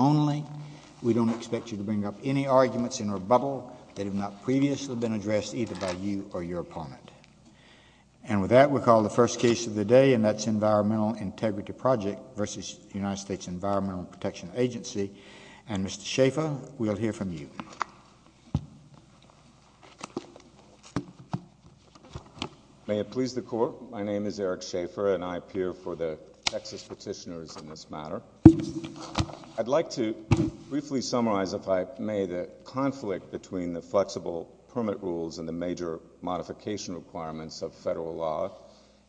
May it please the Court, my name is Eric Schaeffer, and I appear for the Texas petitioners in this matter. I'd like to briefly summarize, if I may, the conflict between the flexible permit rules and the major modification requirements of federal law,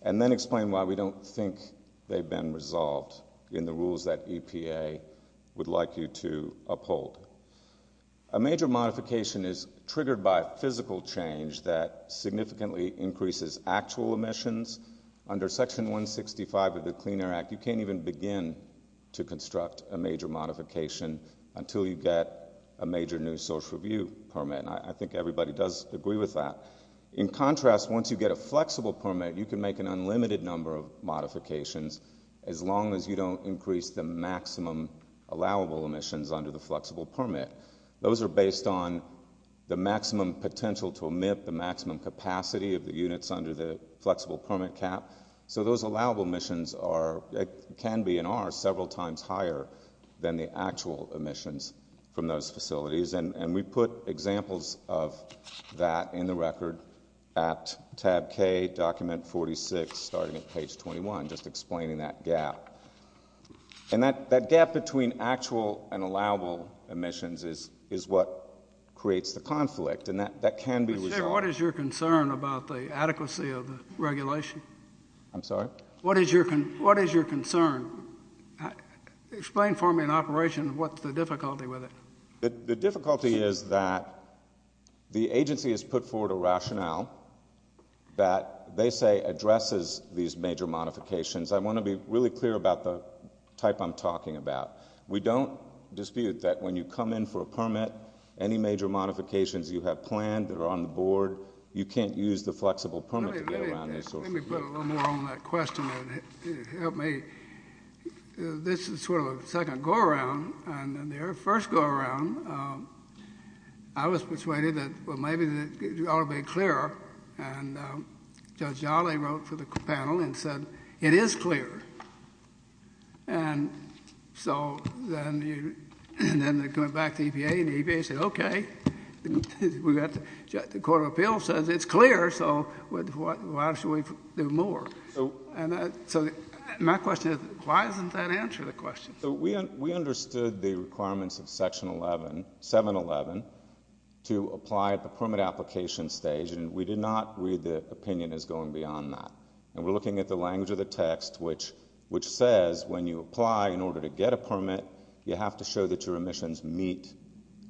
and then explain why we don't think they've been resolved in the rules that EPA would like you to uphold. A major modification is triggered by physical change that significantly increases actual emissions. Under Section 165 of the Clean Air Act, you can't even begin to construct a major modification until you get a major new social review permit, and I think everybody does agree with that. In contrast, once you get a flexible permit, you can make an unlimited number of modifications as long as you don't increase the maximum allowable emissions under the flexible permit. Those are based on the maximum potential to emit, the maximum capacity of the units under the flexible permit cap, so those allowable emissions can be and are several times higher than the actual emissions from those facilities, and we put examples of that in the record at tab K, document 46, starting at page 21, just explaining that gap. That gap between actual and allowable emissions is what creates the conflict, and that can be resolved. What is your concern about the adequacy of the regulation? I'm sorry? What is your concern? Explain for me in operation what's the difficulty with it. The difficulty is that the agency has put forward a rationale that they say addresses these major modifications. I want to be really clear about the type I'm talking about. We don't dispute that when you come in for a permit, any major modifications you have planned, that are on the board, you can't use the flexible permit to get around those sorts of things. Let me put a little more on that question and help me. This is sort of a second go-around, and the very first go-around, I was persuaded that maybe it ought to be clearer, and Judge Jolley wrote for the panel and said, it is clear, and so then they come back to the EPA, and the EPA says, okay, the Court of Appeals says it's clear, so why should we do more? So my question is, why doesn't that answer the question? We understood the requirements of Section 711 to apply at the permit application stage, and we did not read the opinion as going beyond that, and we're looking at the language of the text, which says when you apply in order to get a permit, you have to show that your emissions meet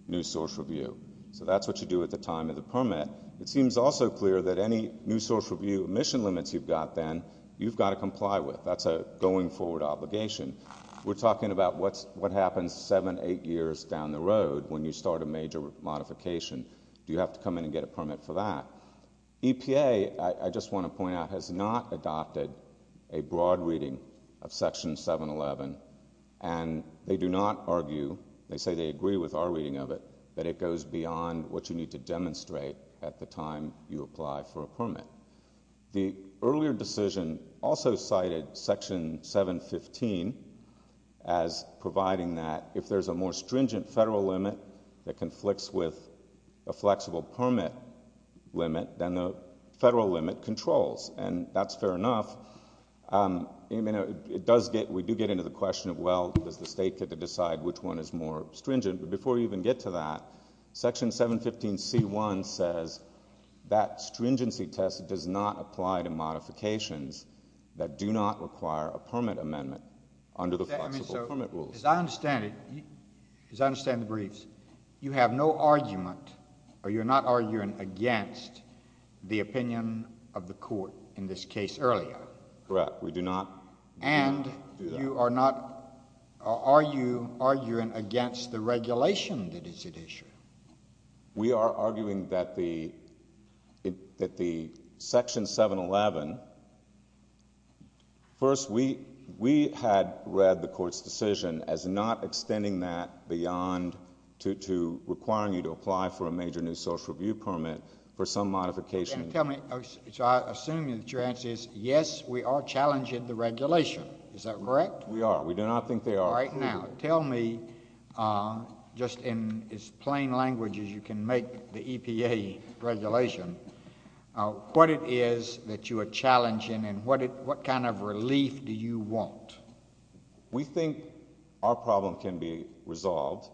new source review. So that's what you do at the time of the permit. It seems also clear that any new source review emission limits you've got then, you've got to comply with. That's a going forward obligation. We're talking about what happens seven, eight years down the road when you start a major modification. Do you have to come in and get a permit for that? EPA, I just want to point out, has not adopted a broad reading of Section 711, and they do not argue, they say they agree with our reading of it, that it goes beyond what you need to demonstrate at the time you apply for a permit. The earlier decision also cited Section 715 as providing that if there's a more stringent federal limit that conflicts with a flexible permit limit, then the federal limit controls. And that's fair enough. It does get, we do get into the question of, well, does the state get to decide which one is more stringent? But before we even get to that, Section 715C1 says that stringency test does not apply to modifications that do not require a permit amendment under the flexible permit rules. As I understand it, as I understand the briefs, you have no argument, or you're not arguing against the opinion of the court in this case earlier? Correct. We do not. And you are not, are you arguing against the regulation that is at issue? We are arguing that the Section 711, first, we had read the court's decision as not extending that beyond to requiring you to apply for a major new social review permit for some modification. Tell me, so I assume that your answer is, yes, we are challenging the regulation. Is that correct? We are. We do not think they are. All right. Now, tell me, just in as plain language as you can make the EPA regulation, what it is that you are challenging, and what kind of relief do you want? We think our problem can be resolved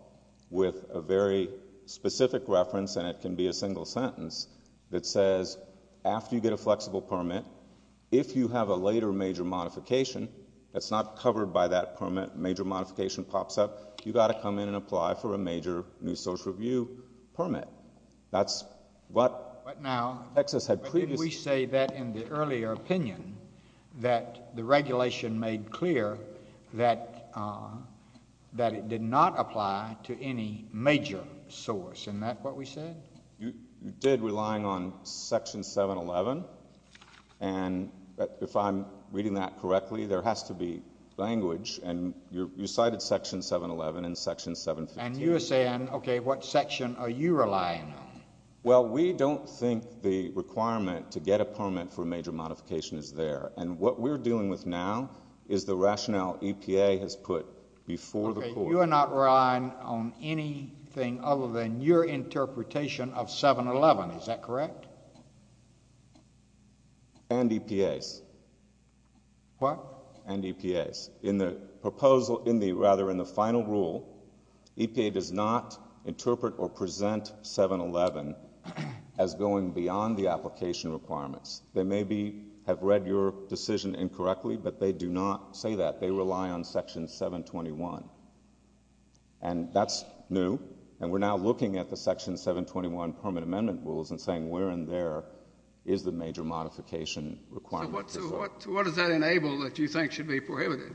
with a very specific reference, and it can be a single sentence, that says, after you get a flexible permit, if you have a later major modification, that's not covered by that permit, major modification pops up, you've got to come in and apply for a major new social review permit. That's what Texas had previously... But now, didn't we say that in the earlier opinion, that the regulation made clear that it did not apply to any major source, isn't that what we said? You did, relying on Section 711, and if I'm reading that correctly, there has to be language, and you cited Section 711 and Section 715. And you're saying, okay, what section are you relying on? Well, we don't think the requirement to get a permit for a major modification is there, and what we're dealing with now is the rationale EPA has put before the court. You are not relying on anything other than your interpretation of 711, is that correct? And EPA's. What? And EPA's. In the proposal, in the, rather, in the final rule, EPA does not interpret or present 711 as going beyond the application requirements. They maybe have read your decision incorrectly, but they do not say that. They rely on Section 721, and that's new, and we're now looking at the Section 721 permit amendment rules and saying where in there is the major modification requirement. So what does that enable that you think should be prohibited?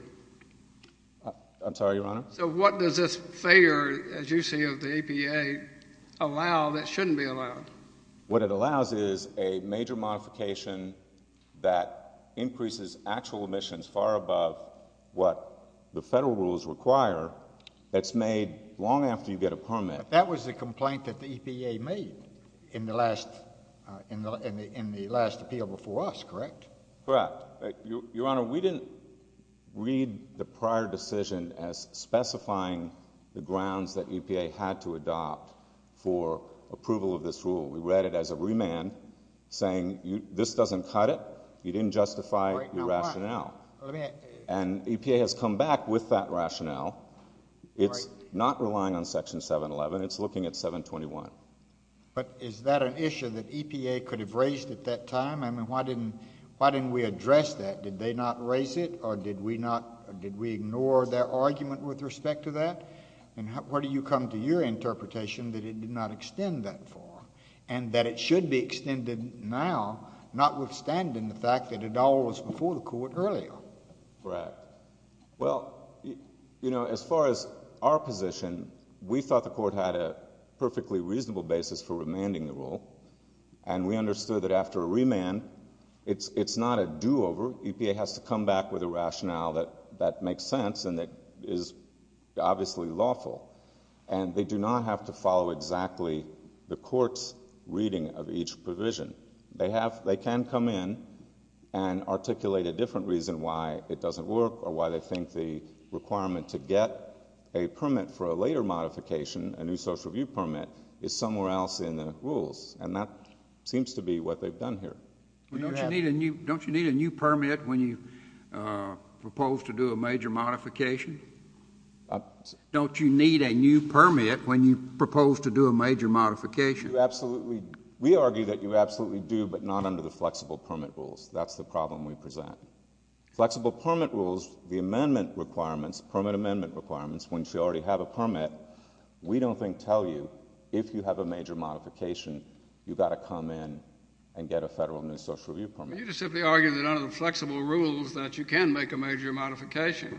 I'm sorry, Your Honor? So what does this failure, as you see of the EPA, allow that shouldn't be allowed? What it allows is a major modification that increases actual emissions far above what the federal rules require that's made long after you get a permit. But that was the complaint that the EPA made in the last, in the last appeal before us, correct? Correct. Your Honor, we didn't read the prior decision as specifying the grounds that EPA had to go. We read it as a remand, saying this doesn't cut it. You didn't justify your rationale. And EPA has come back with that rationale. It's not relying on Section 711. It's looking at 721. But is that an issue that EPA could have raised at that time? I mean, why didn't, why didn't we address that? Did they not raise it, or did we not, did we ignore their argument with respect to that? And where do you come to your interpretation that it did not extend that far, and that it should be extended now, notwithstanding the fact that it all was before the Court earlier? Correct. Well, you know, as far as our position, we thought the Court had a perfectly reasonable basis for remanding the rule, and we understood that after a remand, it's, it's not a do-over. EPA has to come back with a rationale that, that makes sense, and that is obviously lawful. And they do not have to follow exactly the Court's reading of each provision. They have, they can come in and articulate a different reason why it doesn't work, or why they think the requirement to get a permit for a later modification, a new social review permit, is somewhere else in the rules. And that seems to be what they've done here. Well, don't you need a new, don't you need a new permit when you propose to do a major modification? Don't you need a new permit when you propose to do a major modification? You absolutely, we argue that you absolutely do, but not under the flexible permit rules. That's the problem we present. Flexible permit rules, the amendment requirements, permit amendment requirements, once you already have a permit, we don't think tell you, if you have a major modification, you've got to come in and get a federal new social review permit. You're just simply arguing that under the flexible rules that you can make a major modification.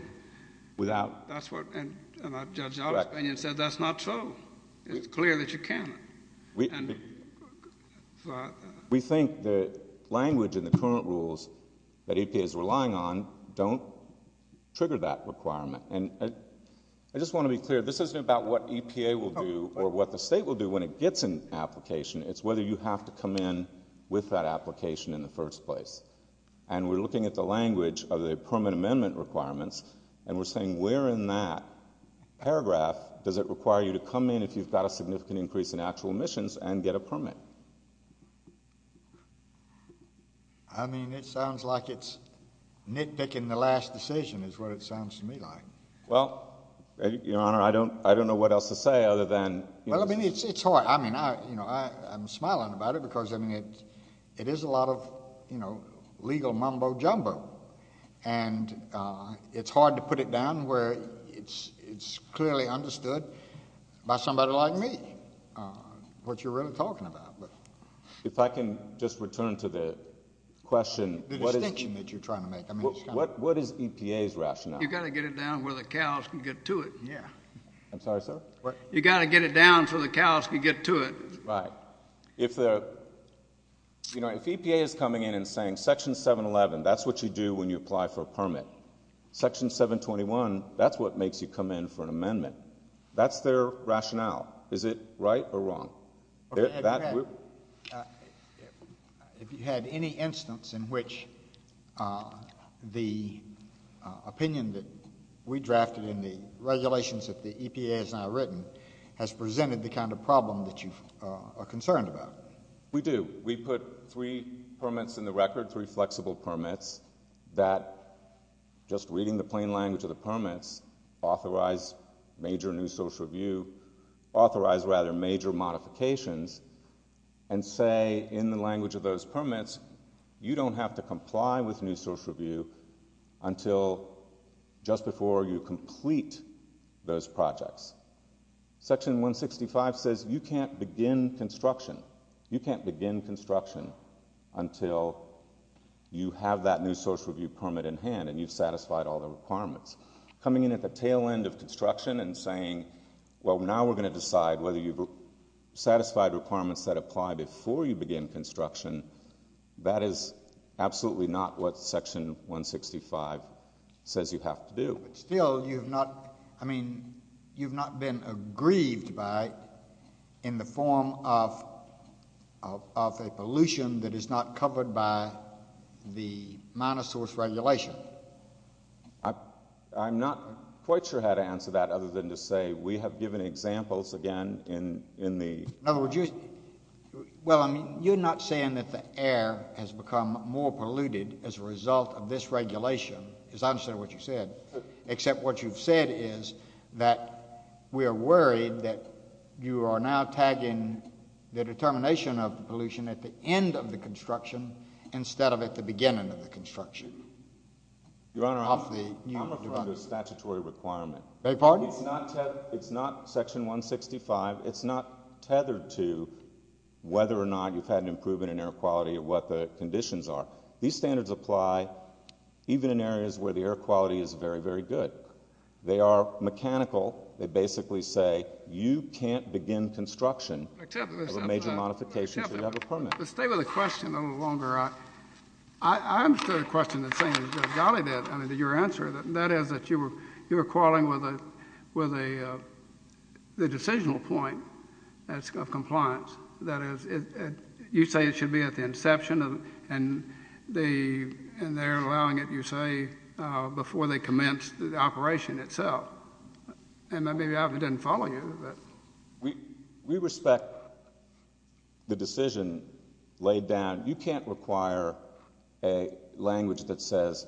Without That's what, and Judge Opspinion said that's not true. It's clear that you can't. We think the language in the current rules that EPA is relying on don't trigger that requirement. And I just want to be clear, this isn't about what EPA will do, or what the State will do when it gets an application. It's whether you have to come in with that application in the first place. And we're looking at the language of the permit amendment requirements, and we're saying where in that paragraph does it require you to come in if you've got a significant increase in actual emissions and get a permit? I mean, it sounds like it's nitpicking the last decision is what it sounds to me like. Well, Your Honor, I don't know what else to say other than Well, I mean, it's hard. I mean, you know, I'm smiling about it because I mean, it is a lot of, you know, legal mumbo jumbo. And it's hard to put it down where it's clearly understood by somebody like me, what you're really talking about. But if I can just return to the question, the distinction that you're trying to make, what is EPA's rationale? You've got to get it down where the cows can get to it. Yeah. I'm sorry, sir. You've got to get it down so the cows can get to it. Right. If the, you know, if EPA is coming in and saying Section 711, that's what you do when you apply for a permit. Section 721, that's what makes you come in for an amendment. That's their rationale. Is it right or wrong? If you had any instance in which the opinion that we drafted in the regulations that the legislation has presented the kind of problem that you are concerned about? We do. We put three permits in the record, three flexible permits that just reading the plain language of the permits, authorize major new social review, authorize rather major modifications and say in the language of those permits, you don't have to comply with new social review until just before you complete those projects. Section 165 says you can't begin construction. You can't begin construction until you have that new social review permit in hand and you've satisfied all the requirements. Coming in at the tail end of construction and saying, well, now we're going to decide whether you've satisfied requirements that apply before you begin construction, that is absolutely not what Section 165 says you have to do. But still, you have not, I mean, you've not been aggrieved by in the form of a pollution that is not covered by the minor source regulation. I'm not quite sure how to answer that other than to say we have given examples, again, in the In other words, you, well, I mean, you're not saying that the air has become more polluted as a result of this regulation, because I understand what you said, except what you've said is that we are worried that you are now tagging the determination of the pollution at the end of the construction instead of at the beginning of the construction. Your Honor, I'm referring to a statutory requirement. Beg your pardon? No, it's not Section 165. It's not tethered to whether or not you've had an improvement in air quality or what the conditions are. These standards apply even in areas where the air quality is very, very good. They are mechanical. They basically say you can't begin construction of a major modification until you have a permit. Except, but stay with the question a little longer. I understood the question in saying, golly, that, I mean, your answer, that is that you are quarreling with the decisional point of compliance. That is, you say it should be at the inception, and they're allowing it, you say, before they commence the operation itself. And maybe I didn't follow you, but. We respect the decision laid down. And you can't require a language that says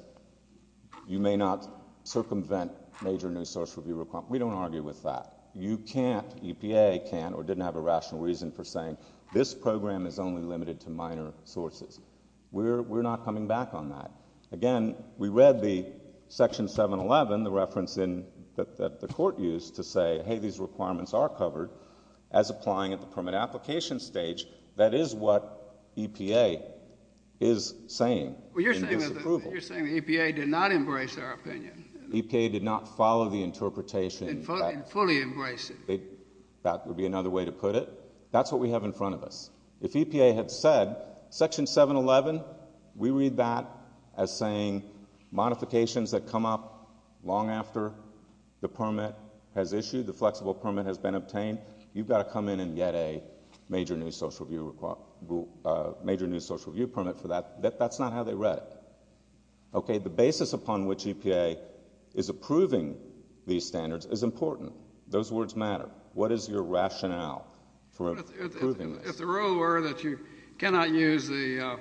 you may not circumvent major new source review requirements. We don't argue with that. You can't, EPA can't or didn't have a rational reason for saying this program is only limited to minor sources. We're not coming back on that. Again, we read the Section 711, the reference that the Court used to say, hey, these requirements are covered as applying at the permit application stage. That is what EPA is saying in disapproval. Well, you're saying that EPA did not embrace our opinion. EPA did not follow the interpretation. And fully embrace it. That would be another way to put it. That's what we have in front of us. If EPA had said, Section 711, we read that as saying, modifications that come up long after the permit has issued, the flexible permit has been obtained, you've got to come in and get a major new source review permit for that. That's not how they read it. Okay, the basis upon which EPA is approving these standards is important. Those words matter. What is your rationale for approving this? If the rule were that you cannot use the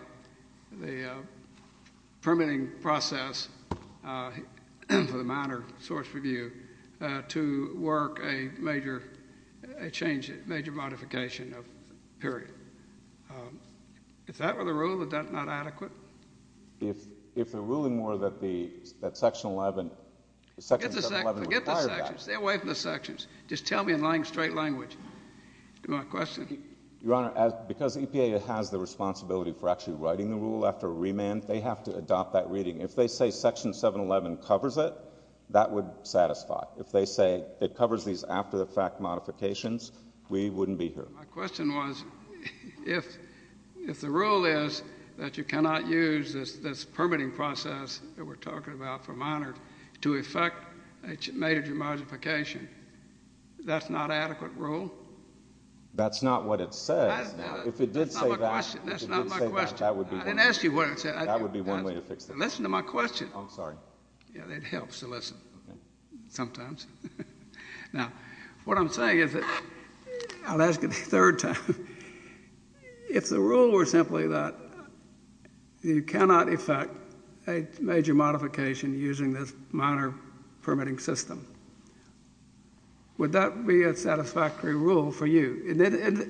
permitting process for the minor source review to work a major modification of the permit, if that were the rule, is that not adequate? If they're ruling more that the Section 711 would require that. Forget the sections. Stay away from the sections. Just tell me in lying straight language. To my question. Your Honor, because EPA has the responsibility for actually writing the rule after remand, they have to adopt that reading. If they say Section 711 covers it, that would satisfy. If they say it covers these after-the-fact modifications, we wouldn't be here. My question was, if the rule is that you cannot use this permitting process that we're talking about for minors to effect a major modification, that's not an adequate rule? That's not what it says. That's not my question. If it did say that, that would be one way to fix it. I didn't ask you what it said. Listen to my question. I'm sorry. It helps to listen. Sometimes. Now, what I'm saying is that, I'll ask it a third time, if the rule were simply that you cannot effect a major modification using this minor permitting system, would that be a satisfactory rule for you?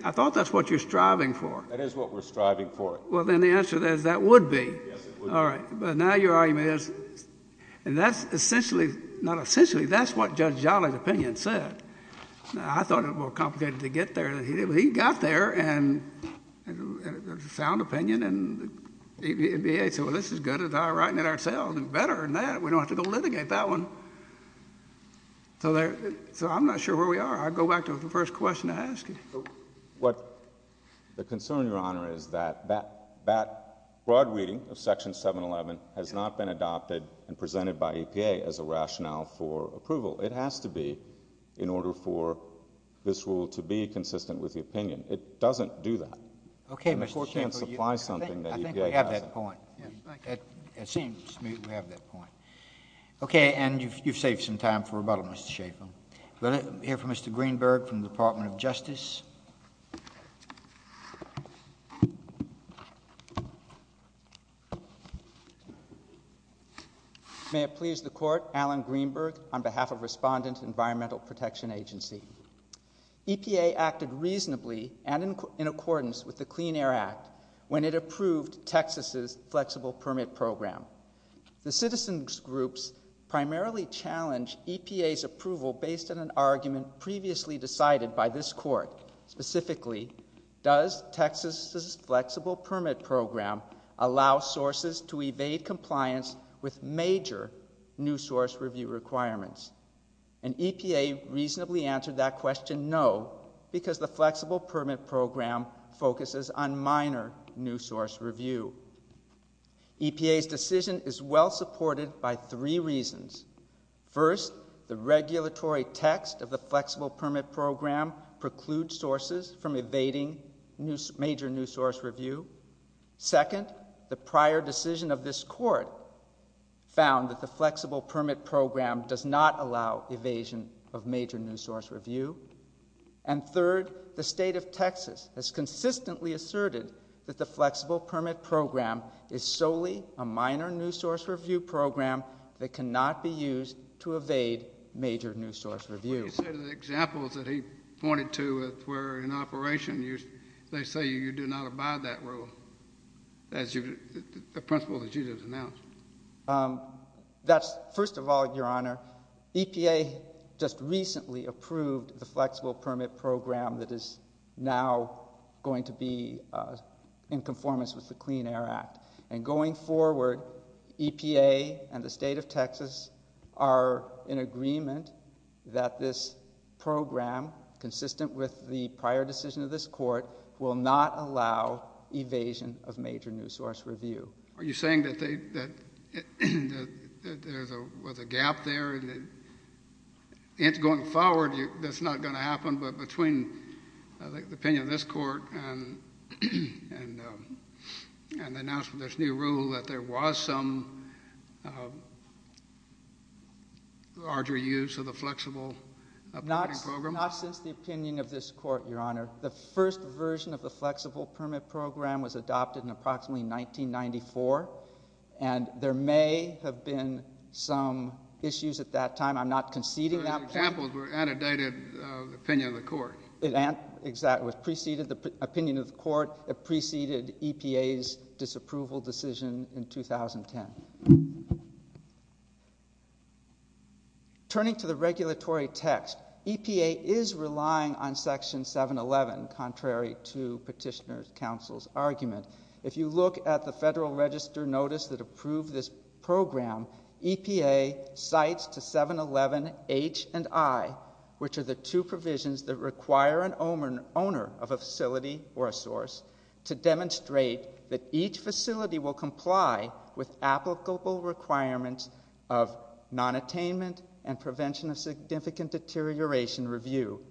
I thought that's what you're striving for. That is what we're striving for. Well, then the answer is that would be. Yes, it would. All right. But now your argument is, and that's essentially, not essentially, that's what Judge Jolly's opinion said. Now, I thought it more complicated to get there than he did, but he got there, and a sound opinion, and the VA said, well, this is good, and now we're writing it ourselves, and better than that, we don't have to go litigate that one. So I'm not sure where we are. I'll go back to the first question I asked you. So what the concern, Your Honor, is that that broad reading of Section 711 has not been adopted and presented by EPA as a rationale for approval. It has to be in order for this rule to be consistent with the opinion. It doesn't do that. Okay, Mr. Schaffer. And the Court can't supply something that EPA hasn't. I think we have that point. It seems to me that we have that point. Okay, and you've saved some time for rebuttal, Mr. Schaffer. Let's hear from Mr. Greenberg from the Department of Justice. May it please the Court, Alan Greenberg on behalf of Respondent Environmental Protection Agency. EPA acted reasonably and in accordance with the Clean Air Act when it approved Texas's flexible permit program. The citizens' groups primarily challenged EPA's approval based on an argument previously decided by this Court, specifically, does Texas's flexible permit program allow sources to evade compliance with major new source review requirements? And EPA reasonably answered that question, no, because the flexible permit program focuses on minor new source review. EPA's decision is well-supported by three reasons. First, the regulatory text of the flexible permit program precludes sources from evading major new source review. Second, the prior decision of this Court found that the flexible permit program does not allow evasion of major new source review. And third, the state of Texas has consistently asserted that the flexible permit program is solely a minor new source review program that cannot be used to evade major new source review. What do you say to the examples that he pointed to where in operation they say you do not abide that rule, the principle that you just announced? First of all, Your Honor, EPA just recently approved the flexible permit program that is now going to be in conformance with the Clean Air Act. And going forward, EPA and the state of Texas are in agreement that this program, consistent with the prior decision of this Court, will not allow evasion of major new source review. Are you saying that there's a gap there and that going forward that's not going to happen but between the opinion of this Court and the announcement of this new rule that there was some larger use of the flexible permit program? Not since the opinion of this Court, Your Honor. The first version of the flexible permit program was adopted in approximately 1994, and there may have been some issues at that time. I'm not conceding that. So his examples were antidoted the opinion of the Court? It was preceded, the opinion of the Court preceded EPA's disapproval decision in 2010. Turning to the regulatory text, EPA is relying on Section 711, contrary to Petitioner's Council's argument. If you look at the Federal Register notice that approved this program, EPA cites to 711 H and I, which are the two provisions that require an owner of a facility or a source, to demonstrate that each facility will comply with applicable requirements of nonattainment and prevention of significant deterioration review.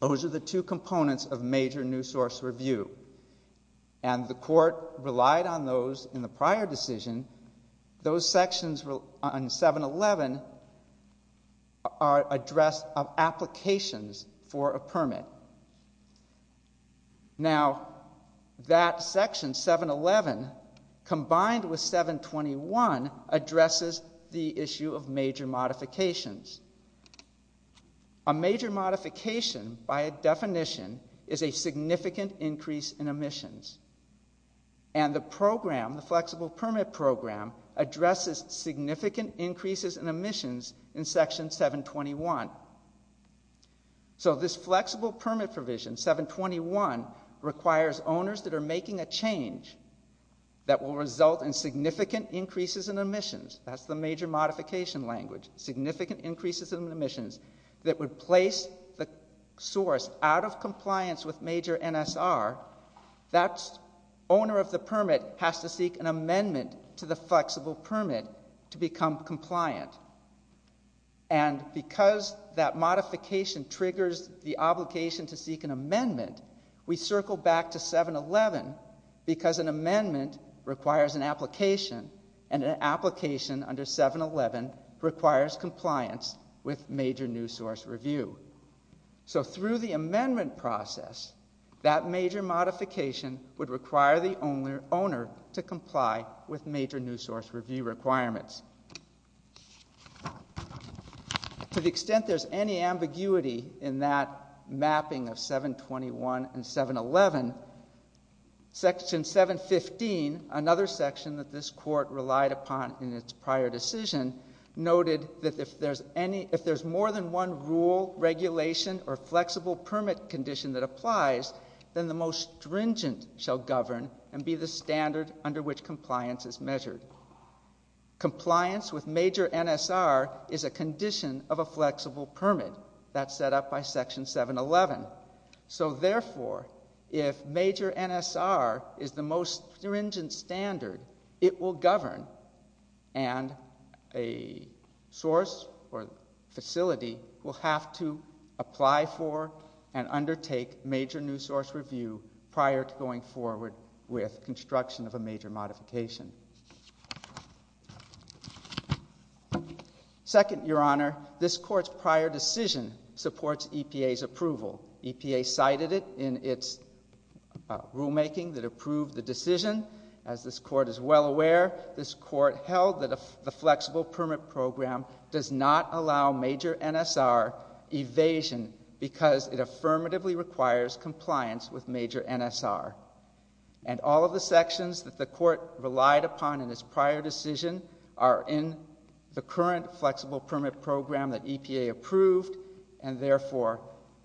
Those are the two components of major new source review, and the Court relied on those in the prior decision. Those sections on 711 are addressed of applications for a permit. Now, that Section 711 combined with 721 addresses the issue of major modifications. A major modification, by definition, is a significant increase in emissions. And the program, the flexible permit program, addresses significant increases in emissions in Section 721. So, this flexible permit provision, 721, requires owners that are making a change that will result in significant increases in emissions, that's the major modification language, significant increases in emissions, that would place the source out of compliance with major NSR, that owner of the permit has to seek an amendment to the flexible permit to become compliant. And, because that modification triggers the obligation to seek an amendment, we circle back to 711, because an amendment requires an application, and an application under 711 requires compliance with major new source review. So through the amendment process, that major modification would require the owner to comply with major new source review requirements. To the extent there's any ambiguity in that mapping of 721 and 711, Section 715, another section that this Court relied upon in its prior decision, noted that if there's more than one rule, regulation, or flexible permit condition that applies, then the most stringent shall govern and be the standard under which compliance is measured. Compliance with major NSR is a condition of a flexible permit, that's set up by Section 711. So, therefore, if major NSR is the most stringent standard, it will govern and a source or facility will have to apply for and undertake major new source review prior to going forward with construction of a major modification. Second, Your Honor, this Court's prior decision supports EPA's approval. EPA cited it in its rulemaking that approved the decision. As this Court is well aware, this Court held that the flexible permit program does not allow major NSR evasion because it affirmatively requires compliance with major NSR. And all of the sections that the Court relied upon in its prior decision are in the current flexible permit program that EPA approved, and, therefore,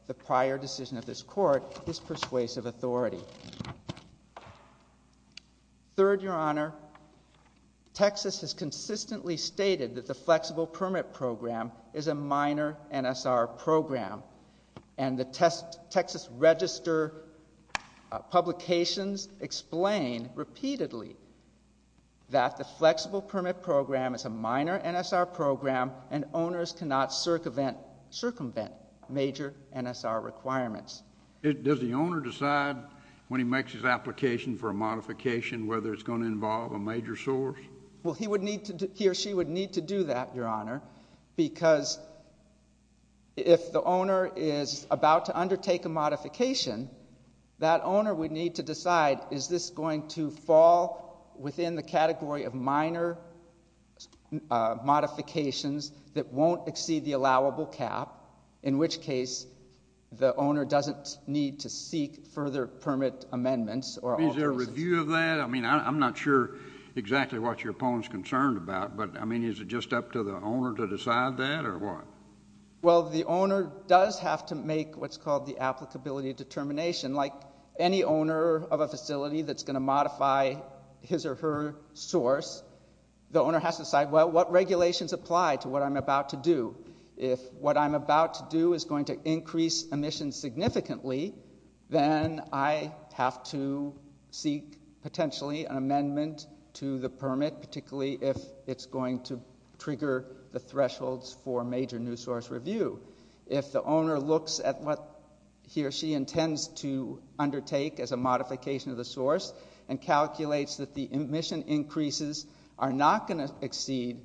the prior decision of this Court is persuasive authority. Third, Your Honor, Texas has consistently stated that the flexible permit program is a minor NSR program, and the Texas Register publications explain repeatedly that the flexible permit program is a minor NSR program and owners cannot circumvent major NSR requirements. Does the owner decide when he makes his application for a modification whether it's going to involve a major source? Well, he or she would need to do that, Your Honor, because if the owner is about to undertake a modification, that owner would need to decide, is this going to fall within the category of minor modifications that won't exceed the allowable cap, in which case the owner doesn't need to seek further permit amendments or alterations. Is there a review of that? I mean, I'm not sure exactly what your opponent is concerned about, but, I mean, is it just up to the owner to decide that or what? Well, the owner does have to make what's called the applicability determination. Like any owner of a facility that's going to modify his or her source, the owner has to decide, well, what regulations apply to what I'm about to do? If what I'm about to do is going to increase emissions significantly, then I have to seek potentially an amendment to the permit, particularly if it's going to trigger the thresholds for major new source review. If the owner looks at what he or she intends to undertake as a modification of the source and calculates that the emission increases are not going to exceed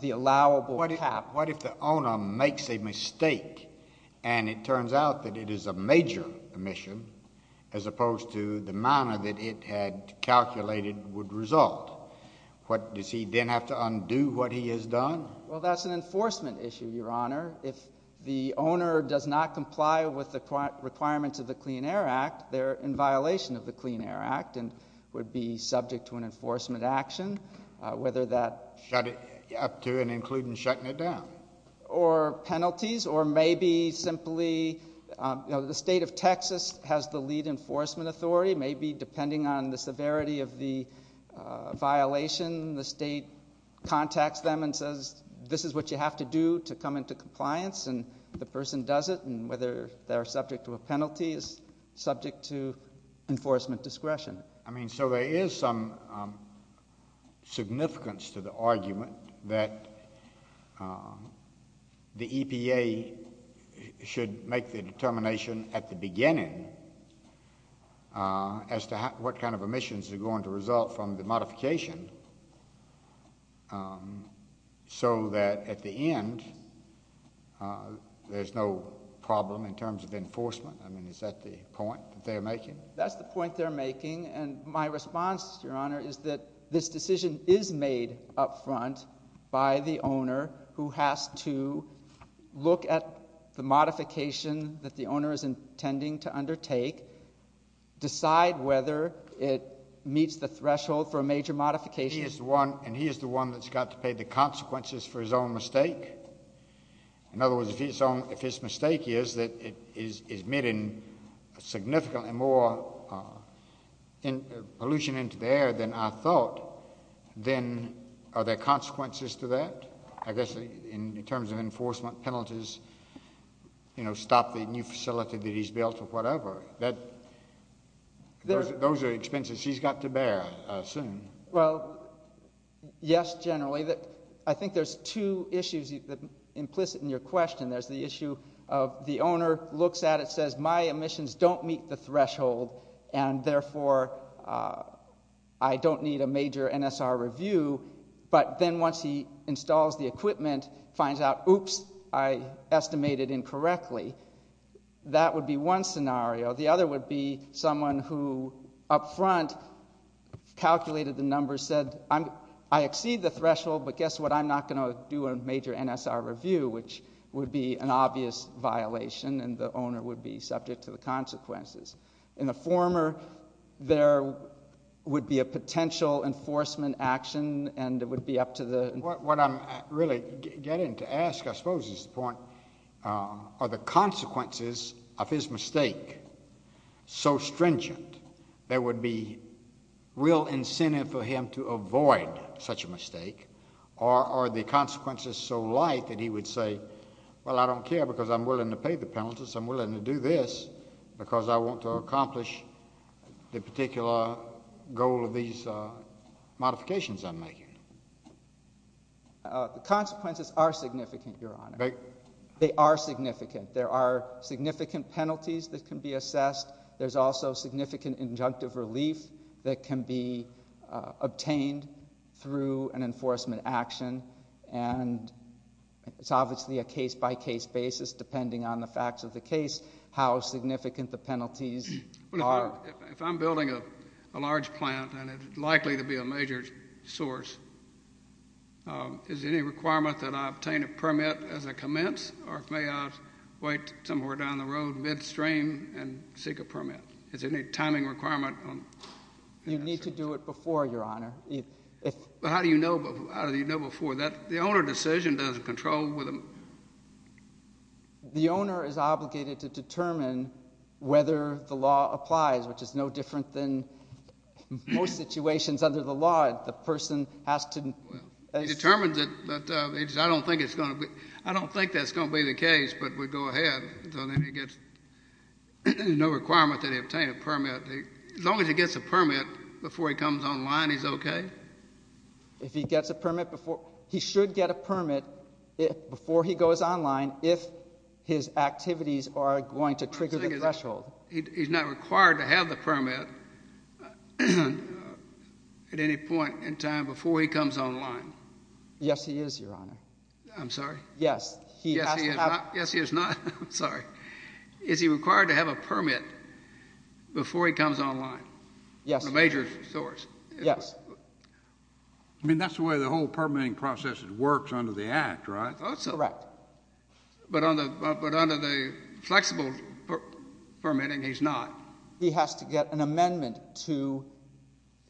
the allowable cap. Now, what if the owner makes a mistake, and it turns out that it is a major emission, as opposed to the manner that it had calculated would result? What does he then have to undo what he has done? Well, that's an enforcement issue, Your Honor. If the owner does not comply with the requirements of the Clean Air Act, they're in violation of the Clean Air Act and would be subject to an enforcement action, whether that... Up to and including shutting it down. Or penalties, or maybe simply, you know, the state of Texas has the lead enforcement authority. Maybe depending on the severity of the violation, the state contacts them and says, this is what you have to do to come into compliance, and the person does it, and whether they're subject to a penalty is subject to enforcement discretion. I mean, so there is some significance to the argument that the EPA should make the determination at the beginning as to what kind of emissions are going to result from the modification, so that at the end, there's no problem in terms of enforcement. I mean, is that the point that they're making? That's the point they're making, and my response, Your Honor, is that this decision is made up front by the owner, who has to look at the modification that the owner is intending to undertake, decide whether it meets the threshold for a major modification. He is the one, and he is the one that's got to pay the consequences for his own mistake. In other words, if his mistake is that it is emitting significantly more pollution into the air than I thought, then are there consequences to that? I guess in terms of enforcement penalties, you know, stop the new facility that he's built or whatever. Those are expenses he's got to bear, I assume. Well, yes, generally. I think there's two issues implicit in your question. There's the issue of the owner looks at it, says, my emissions don't meet the threshold, and therefore, I don't need a major NSR review. But then once he installs the equipment, finds out, oops, I estimated incorrectly. That would be one scenario. The other would be someone who up front calculated the numbers, said, I exceed the threshold, but guess what? I'm not going to do a major NSR review, which would be an obvious violation, and the owner would be subject to the consequences. In the former, there would be a potential enforcement action, and it would be up to the— What I'm really getting to ask, I suppose, is the point, are the consequences of his mistake so stringent there would be real incentive for him to avoid such a mistake, or are the consequences so light that he would say, well, I don't care because I'm willing to pay the penalties. I'm willing to do this because I want to accomplish the particular goal of these modifications I'm making? The consequences are significant, Your Honor. They are significant. There are significant penalties that can be assessed. There's also significant injunctive relief that can be obtained through an enforcement action, and it's obviously a case-by-case basis, depending on the facts of the case, how significant the penalties are. If I'm building a large plant, and it's likely to be a major source, is there any requirement that I obtain a permit as I commence, or may I wait somewhere down the road, midstream, and seek a permit? Is there any timing requirement? You need to do it before, Your Honor. How do you know before? The owner decision doesn't control whether— The owner is obligated to determine whether the law applies, which is no different than most situations under the law. The person has to— He determines it, but I don't think it's going to be—I don't think that's going to be the case, but we go ahead, so then he gets—there's no requirement that he obtain a permit. As long as he gets a permit before he comes online, he's okay? If he gets a permit before—he should get a permit before he goes online if his activities are going to trigger the threshold. He's not required to have the permit at any point in time before he comes online? Yes he is, Your Honor. I'm sorry? Yes. He has to have— Yes, he is not. I'm sorry. Is he required to have a permit before he comes online? Yes. A major source. Yes. I mean, that's the way the whole permitting process works under the Act, right? Correct. But under the flexible permitting, he's not? He has to get an amendment to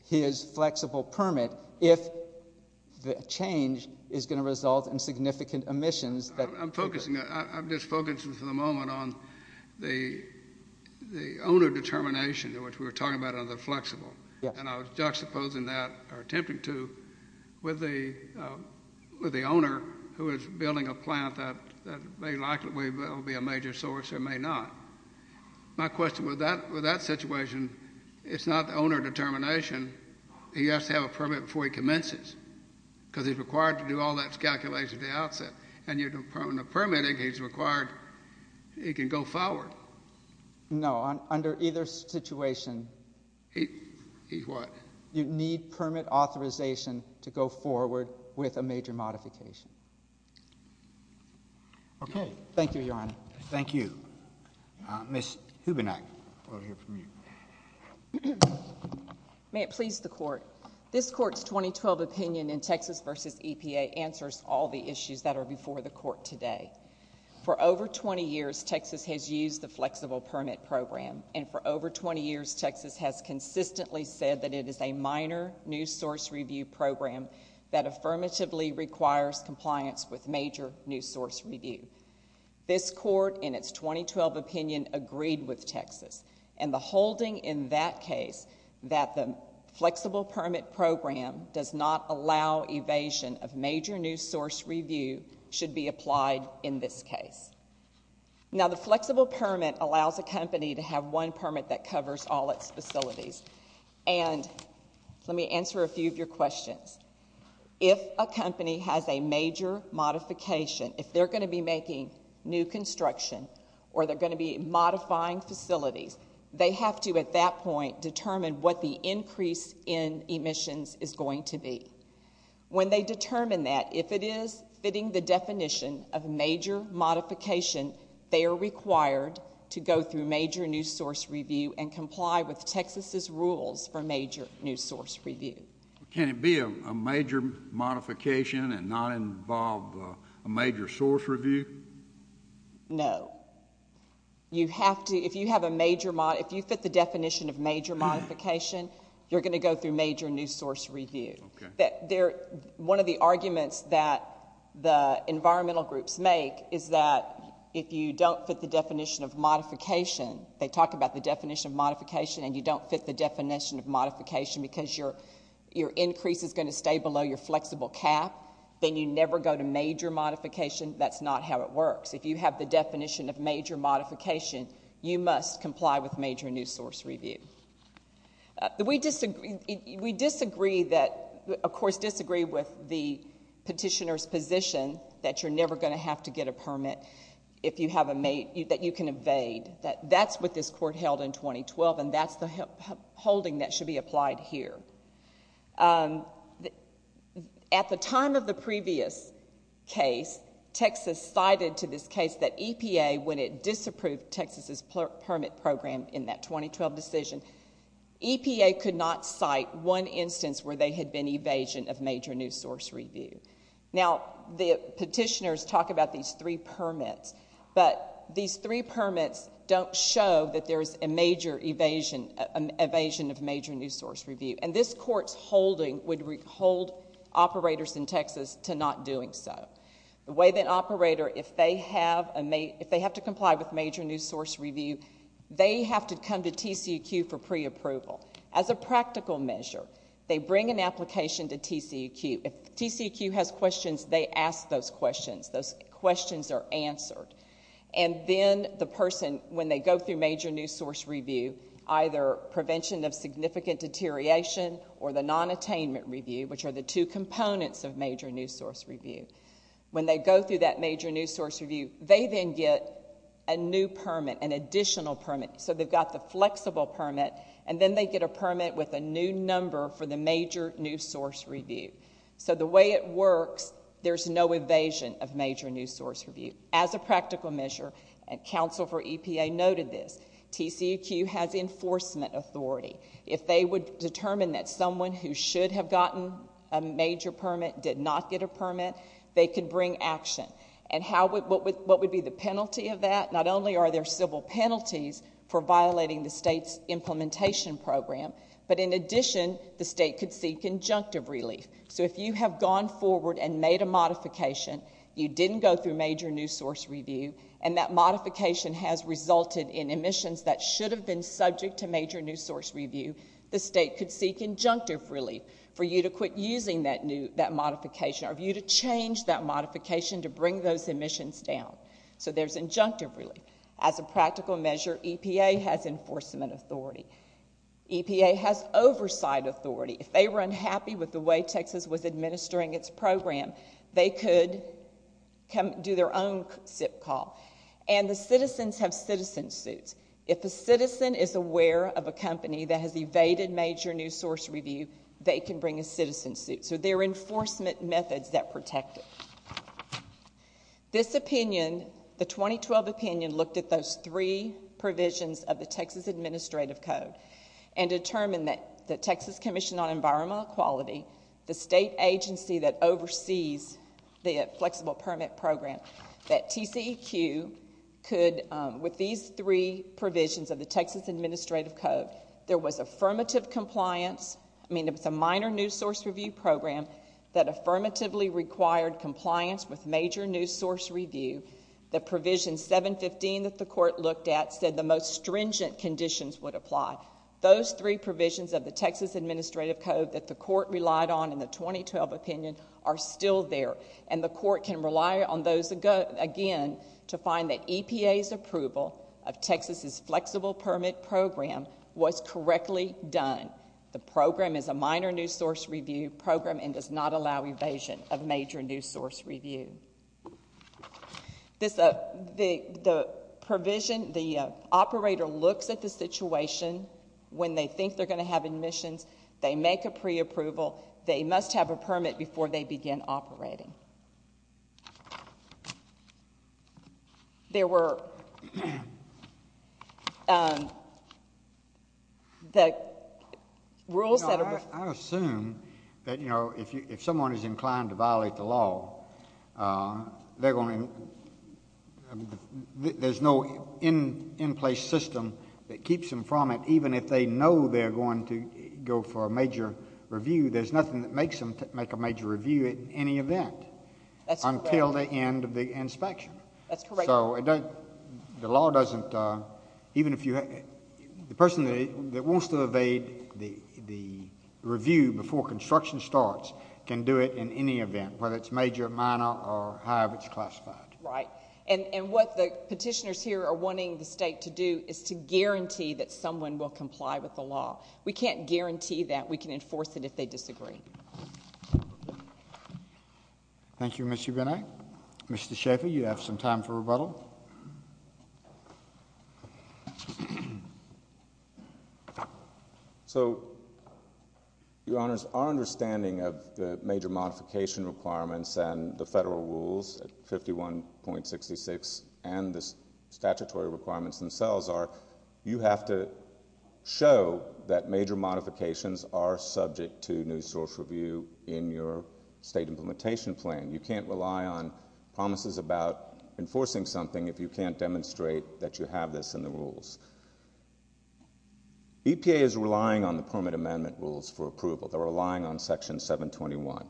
his flexible permit if the change is going to result in significant omissions that— I'm focusing—I'm just focusing for the moment on the owner determination, which we were talking about under the flexible. Yes. And I was juxtaposing that, or attempting to, with the owner who is building a plant that may likely be a major source or may not. My question with that situation, it's not the owner determination. He has to have a permit before he commences, because he's required to do all that calculation at the outset. And under permitting, he's required—he can go forward. No, under either situation. He's what? You need permit authorization to go forward with a major modification. Thank you, Your Honor. Thank you. Ms. Hubenak, we'll hear from you. May it please the Court. This Court's 2012 opinion in Texas v. EPA answers all the issues that are before the Court today. For over 20 years, Texas has used the Flexible Permit Program. And for over 20 years, Texas has consistently said that it is a minor new source review program that affirmatively requires compliance with major new source review. This Court, in its 2012 opinion, agreed with Texas. And the holding in that case, that the Flexible Permit Program does not allow evasion of major new source review, should be applied in this case. Now the Flexible Permit allows a company to have one permit that covers all its facilities. And let me answer a few of your questions. If a company has a major modification, if they're going to be making new construction or they're going to be modifying facilities, they have to, at that point, determine what the increase in emissions is going to be. When they determine that, if it is fitting the definition of major modification, they are required to go through major new source review and comply with Texas' rules for major new source review. Can it be a major modification and not involve a major source review? No. You have to, if you have a major, if you fit the definition of major modification, you're One of the arguments that the environmental groups make is that if you don't fit the definition of modification, they talk about the definition of modification and you don't fit the definition of modification because your increase is going to stay below your flexible cap, then you never go to major modification. That's not how it works. If you have the definition of major modification, you must comply with major new source review. We disagree that, of course, disagree with the petitioner's position that you're never going to have to get a permit if you have a, that you can evade. That's what this court held in 2012 and that's the holding that should be applied here. At the time of the previous case, Texas cited to this case that EPA, when it disapproved Texas' permit program in that 2012 decision, EPA could not cite one instance where they had been evasion of major new source review. Now the petitioners talk about these three permits, but these three permits don't show that there's a major evasion of major new source review. This court's holding would hold operators in Texas to not doing so. The way that an operator, if they have to comply with major new source review, they have to come to TCEQ for pre-approval. As a practical measure, they bring an application to TCEQ. If TCEQ has questions, they ask those questions. Those questions are answered. And then the person, when they go through major new source review, either prevention of significant deterioration or the non-attainment review, which are the two components of major new source review. When they go through that major new source review, they then get a new permit, an additional permit. So they've got the flexible permit, and then they get a permit with a new number for the major new source review. So the way it works, there's no evasion of major new source review. As a practical measure, and counsel for EPA noted this, TCEQ has enforcement authority. If they would determine that someone who should have gotten a major permit did not get a permit, they could bring action. And what would be the penalty of that? Not only are there civil penalties for violating the state's implementation program, but in addition, the state could see conjunctive relief. So if you have gone forward and made a modification, you didn't go through major new source review, and that modification has resulted in emissions that should have been subject to major new source review, the state could seek injunctive relief for you to quit using that modification or for you to change that modification to bring those emissions down. So there's injunctive relief. As a practical measure, EPA has enforcement authority. EPA has oversight authority. If they were unhappy with the way Texas was administering its program, they could do their own SIP call. And the citizens have citizen suits. If a citizen is aware of a company that has evaded major new source review, they can bring a citizen suit. So there are enforcement methods that protect it. This opinion, the 2012 opinion, looked at those three provisions of the Texas Administrative Code and determined that the Texas Commission on Environmental Equality, the state agency that oversees the flexible permit program, that TCEQ could, with these three provisions of the Texas Administrative Code, there was affirmative compliance, I mean, it was a minor new source review program that affirmatively required compliance with major new source review. The provision 715 that the court looked at said the most stringent conditions would apply. Those three provisions of the Texas Administrative Code that the court relied on in the 2012 opinion are still there. And the court can rely on those, again, to find that EPA's approval of Texas's flexible permit program was correctly done. The program is a minor new source review program and does not allow evasion of major new source review. The provision, the operator looks at the situation when they think they're going to have admissions. They make a preapproval. They must have a permit before they begin operating. There were the rules that are... I assume that, you know, if someone is inclined to violate the law, they're going to... there's no in-place system that keeps them from it, even if they know they're going to go for a major review. There's nothing that makes them make a major review at any event until the end of the inspection. That's correct. So the law doesn't... even if you... the person that wants to evade the review before construction starts can do it in any event, whether it's major, minor, or however it's classified. Right. And what the petitioners here are wanting the state to do is to guarantee that someone will comply with the law. We can't guarantee that we can enforce it if they disagree. Thank you, Ms. Ubeni. Mr. Schaffer, you have some time for rebuttal. So Your Honors, our understanding of the major modification requirements and the federal rules at 51.66 and the statutory requirements themselves are, you have to show that major modifications are subject to new source review in your state implementation plan. You can't rely on promises about enforcing something if you can't demonstrate that you have this in the rules. EPA is relying on the permit amendment rules for approval. They're relying on Section 721.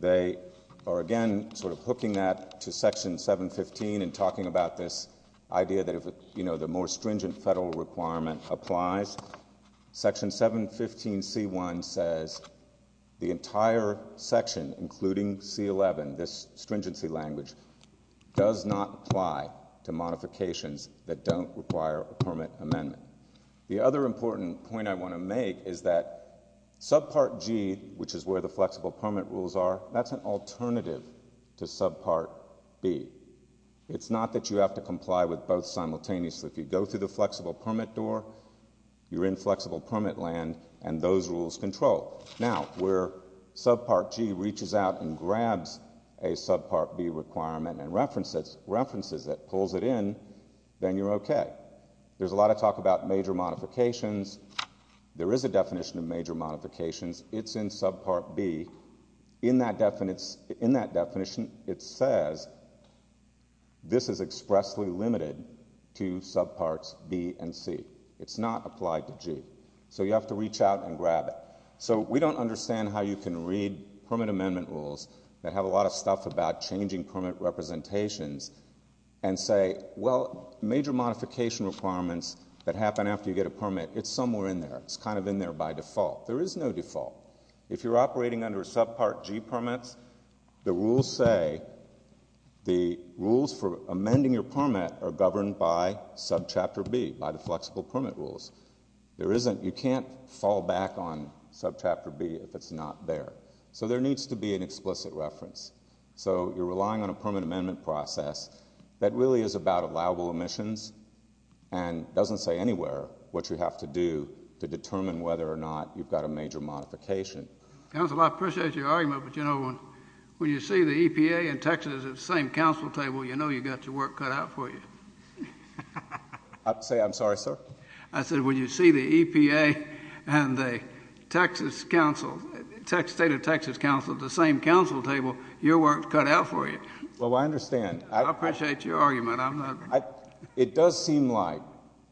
They are, again, sort of hooking that to Section 715 and talking about this idea that if, you know, the more stringent federal requirement applies. Section 715C1 says the entire section, including C11, this stringency language, does not apply to modifications that don't require a permit amendment. The other important point I want to make is that Subpart G, which is where the flexible permit rules are, that's an alternative to Subpart B. It's not that you have to comply with both simultaneously. If you go through the flexible permit door, you're in flexible permit land, and those rules control. Now, where Subpart G reaches out and grabs a Subpart B requirement and references it, pulls it in, then you're okay. There's a lot of talk about major modifications. There is a definition of major modifications. It's in Subpart B. In that definition, it says this is expressly limited to Subparts B and C. It's not applied to G. So you have to reach out and grab it. So we don't understand how you can read permit amendment rules that have a lot of stuff about changing permit representations and say, well, major modification requirements that happen after you get a permit, it's somewhere in there. It's kind of in there by default. There is no default. If you're operating under Subpart G permits, the rules say the rules for amending your permit are governed by Subchapter B, by the flexible permit rules. You can't fall back on Subchapter B if it's not there. So there needs to be an explicit reference. So you're relying on a permit amendment process that really is about allowable emissions and doesn't say anywhere what you have to do to determine whether or not you've got a major modification. Council, I appreciate your argument, but you know, when you see the EPA and Texas at the same council table, you know you've got your work cut out for you. I'm sorry, sir? I said when you see the EPA and the Texas council, state of Texas council at the same council table, your work is cut out for you. Well, I understand. I appreciate your argument. It does seem like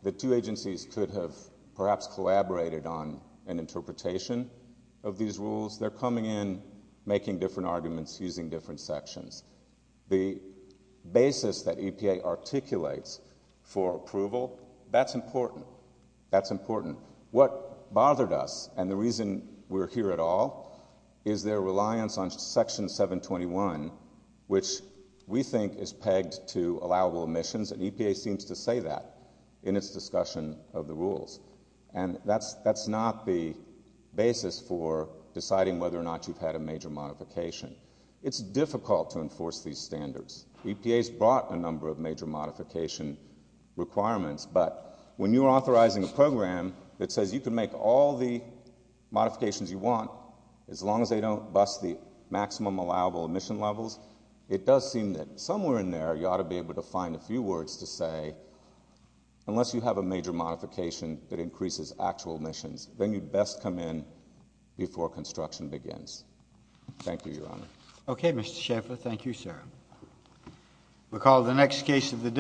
the two agencies could have perhaps collaborated on an interpretation of these rules. They're coming in, making different arguments, using different sections. The basis that EPA articulates for approval, that's important. That's important. What bothered us, and the reason we're here at all, is their reliance on Section 721, which we think is pegged to allowable emissions, and EPA seems to say that in its discussion of the rules. And that's not the basis for deciding whether or not you've had a major modification. It's difficult to enforce these standards. EPA's brought a number of major modification requirements, but when you're authorizing a program that says you can make all the modifications you want, as long as they don't bust the maximum allowable emission levels, it does seem that somewhere in there you ought to be able to find a few words to say, unless you have a major modification that increases actual emissions, then you'd best come in before construction begins. Thank you, Your Honor. Okay, Mr. Schaffer. Thank you, sir. We'll call the next case of the day.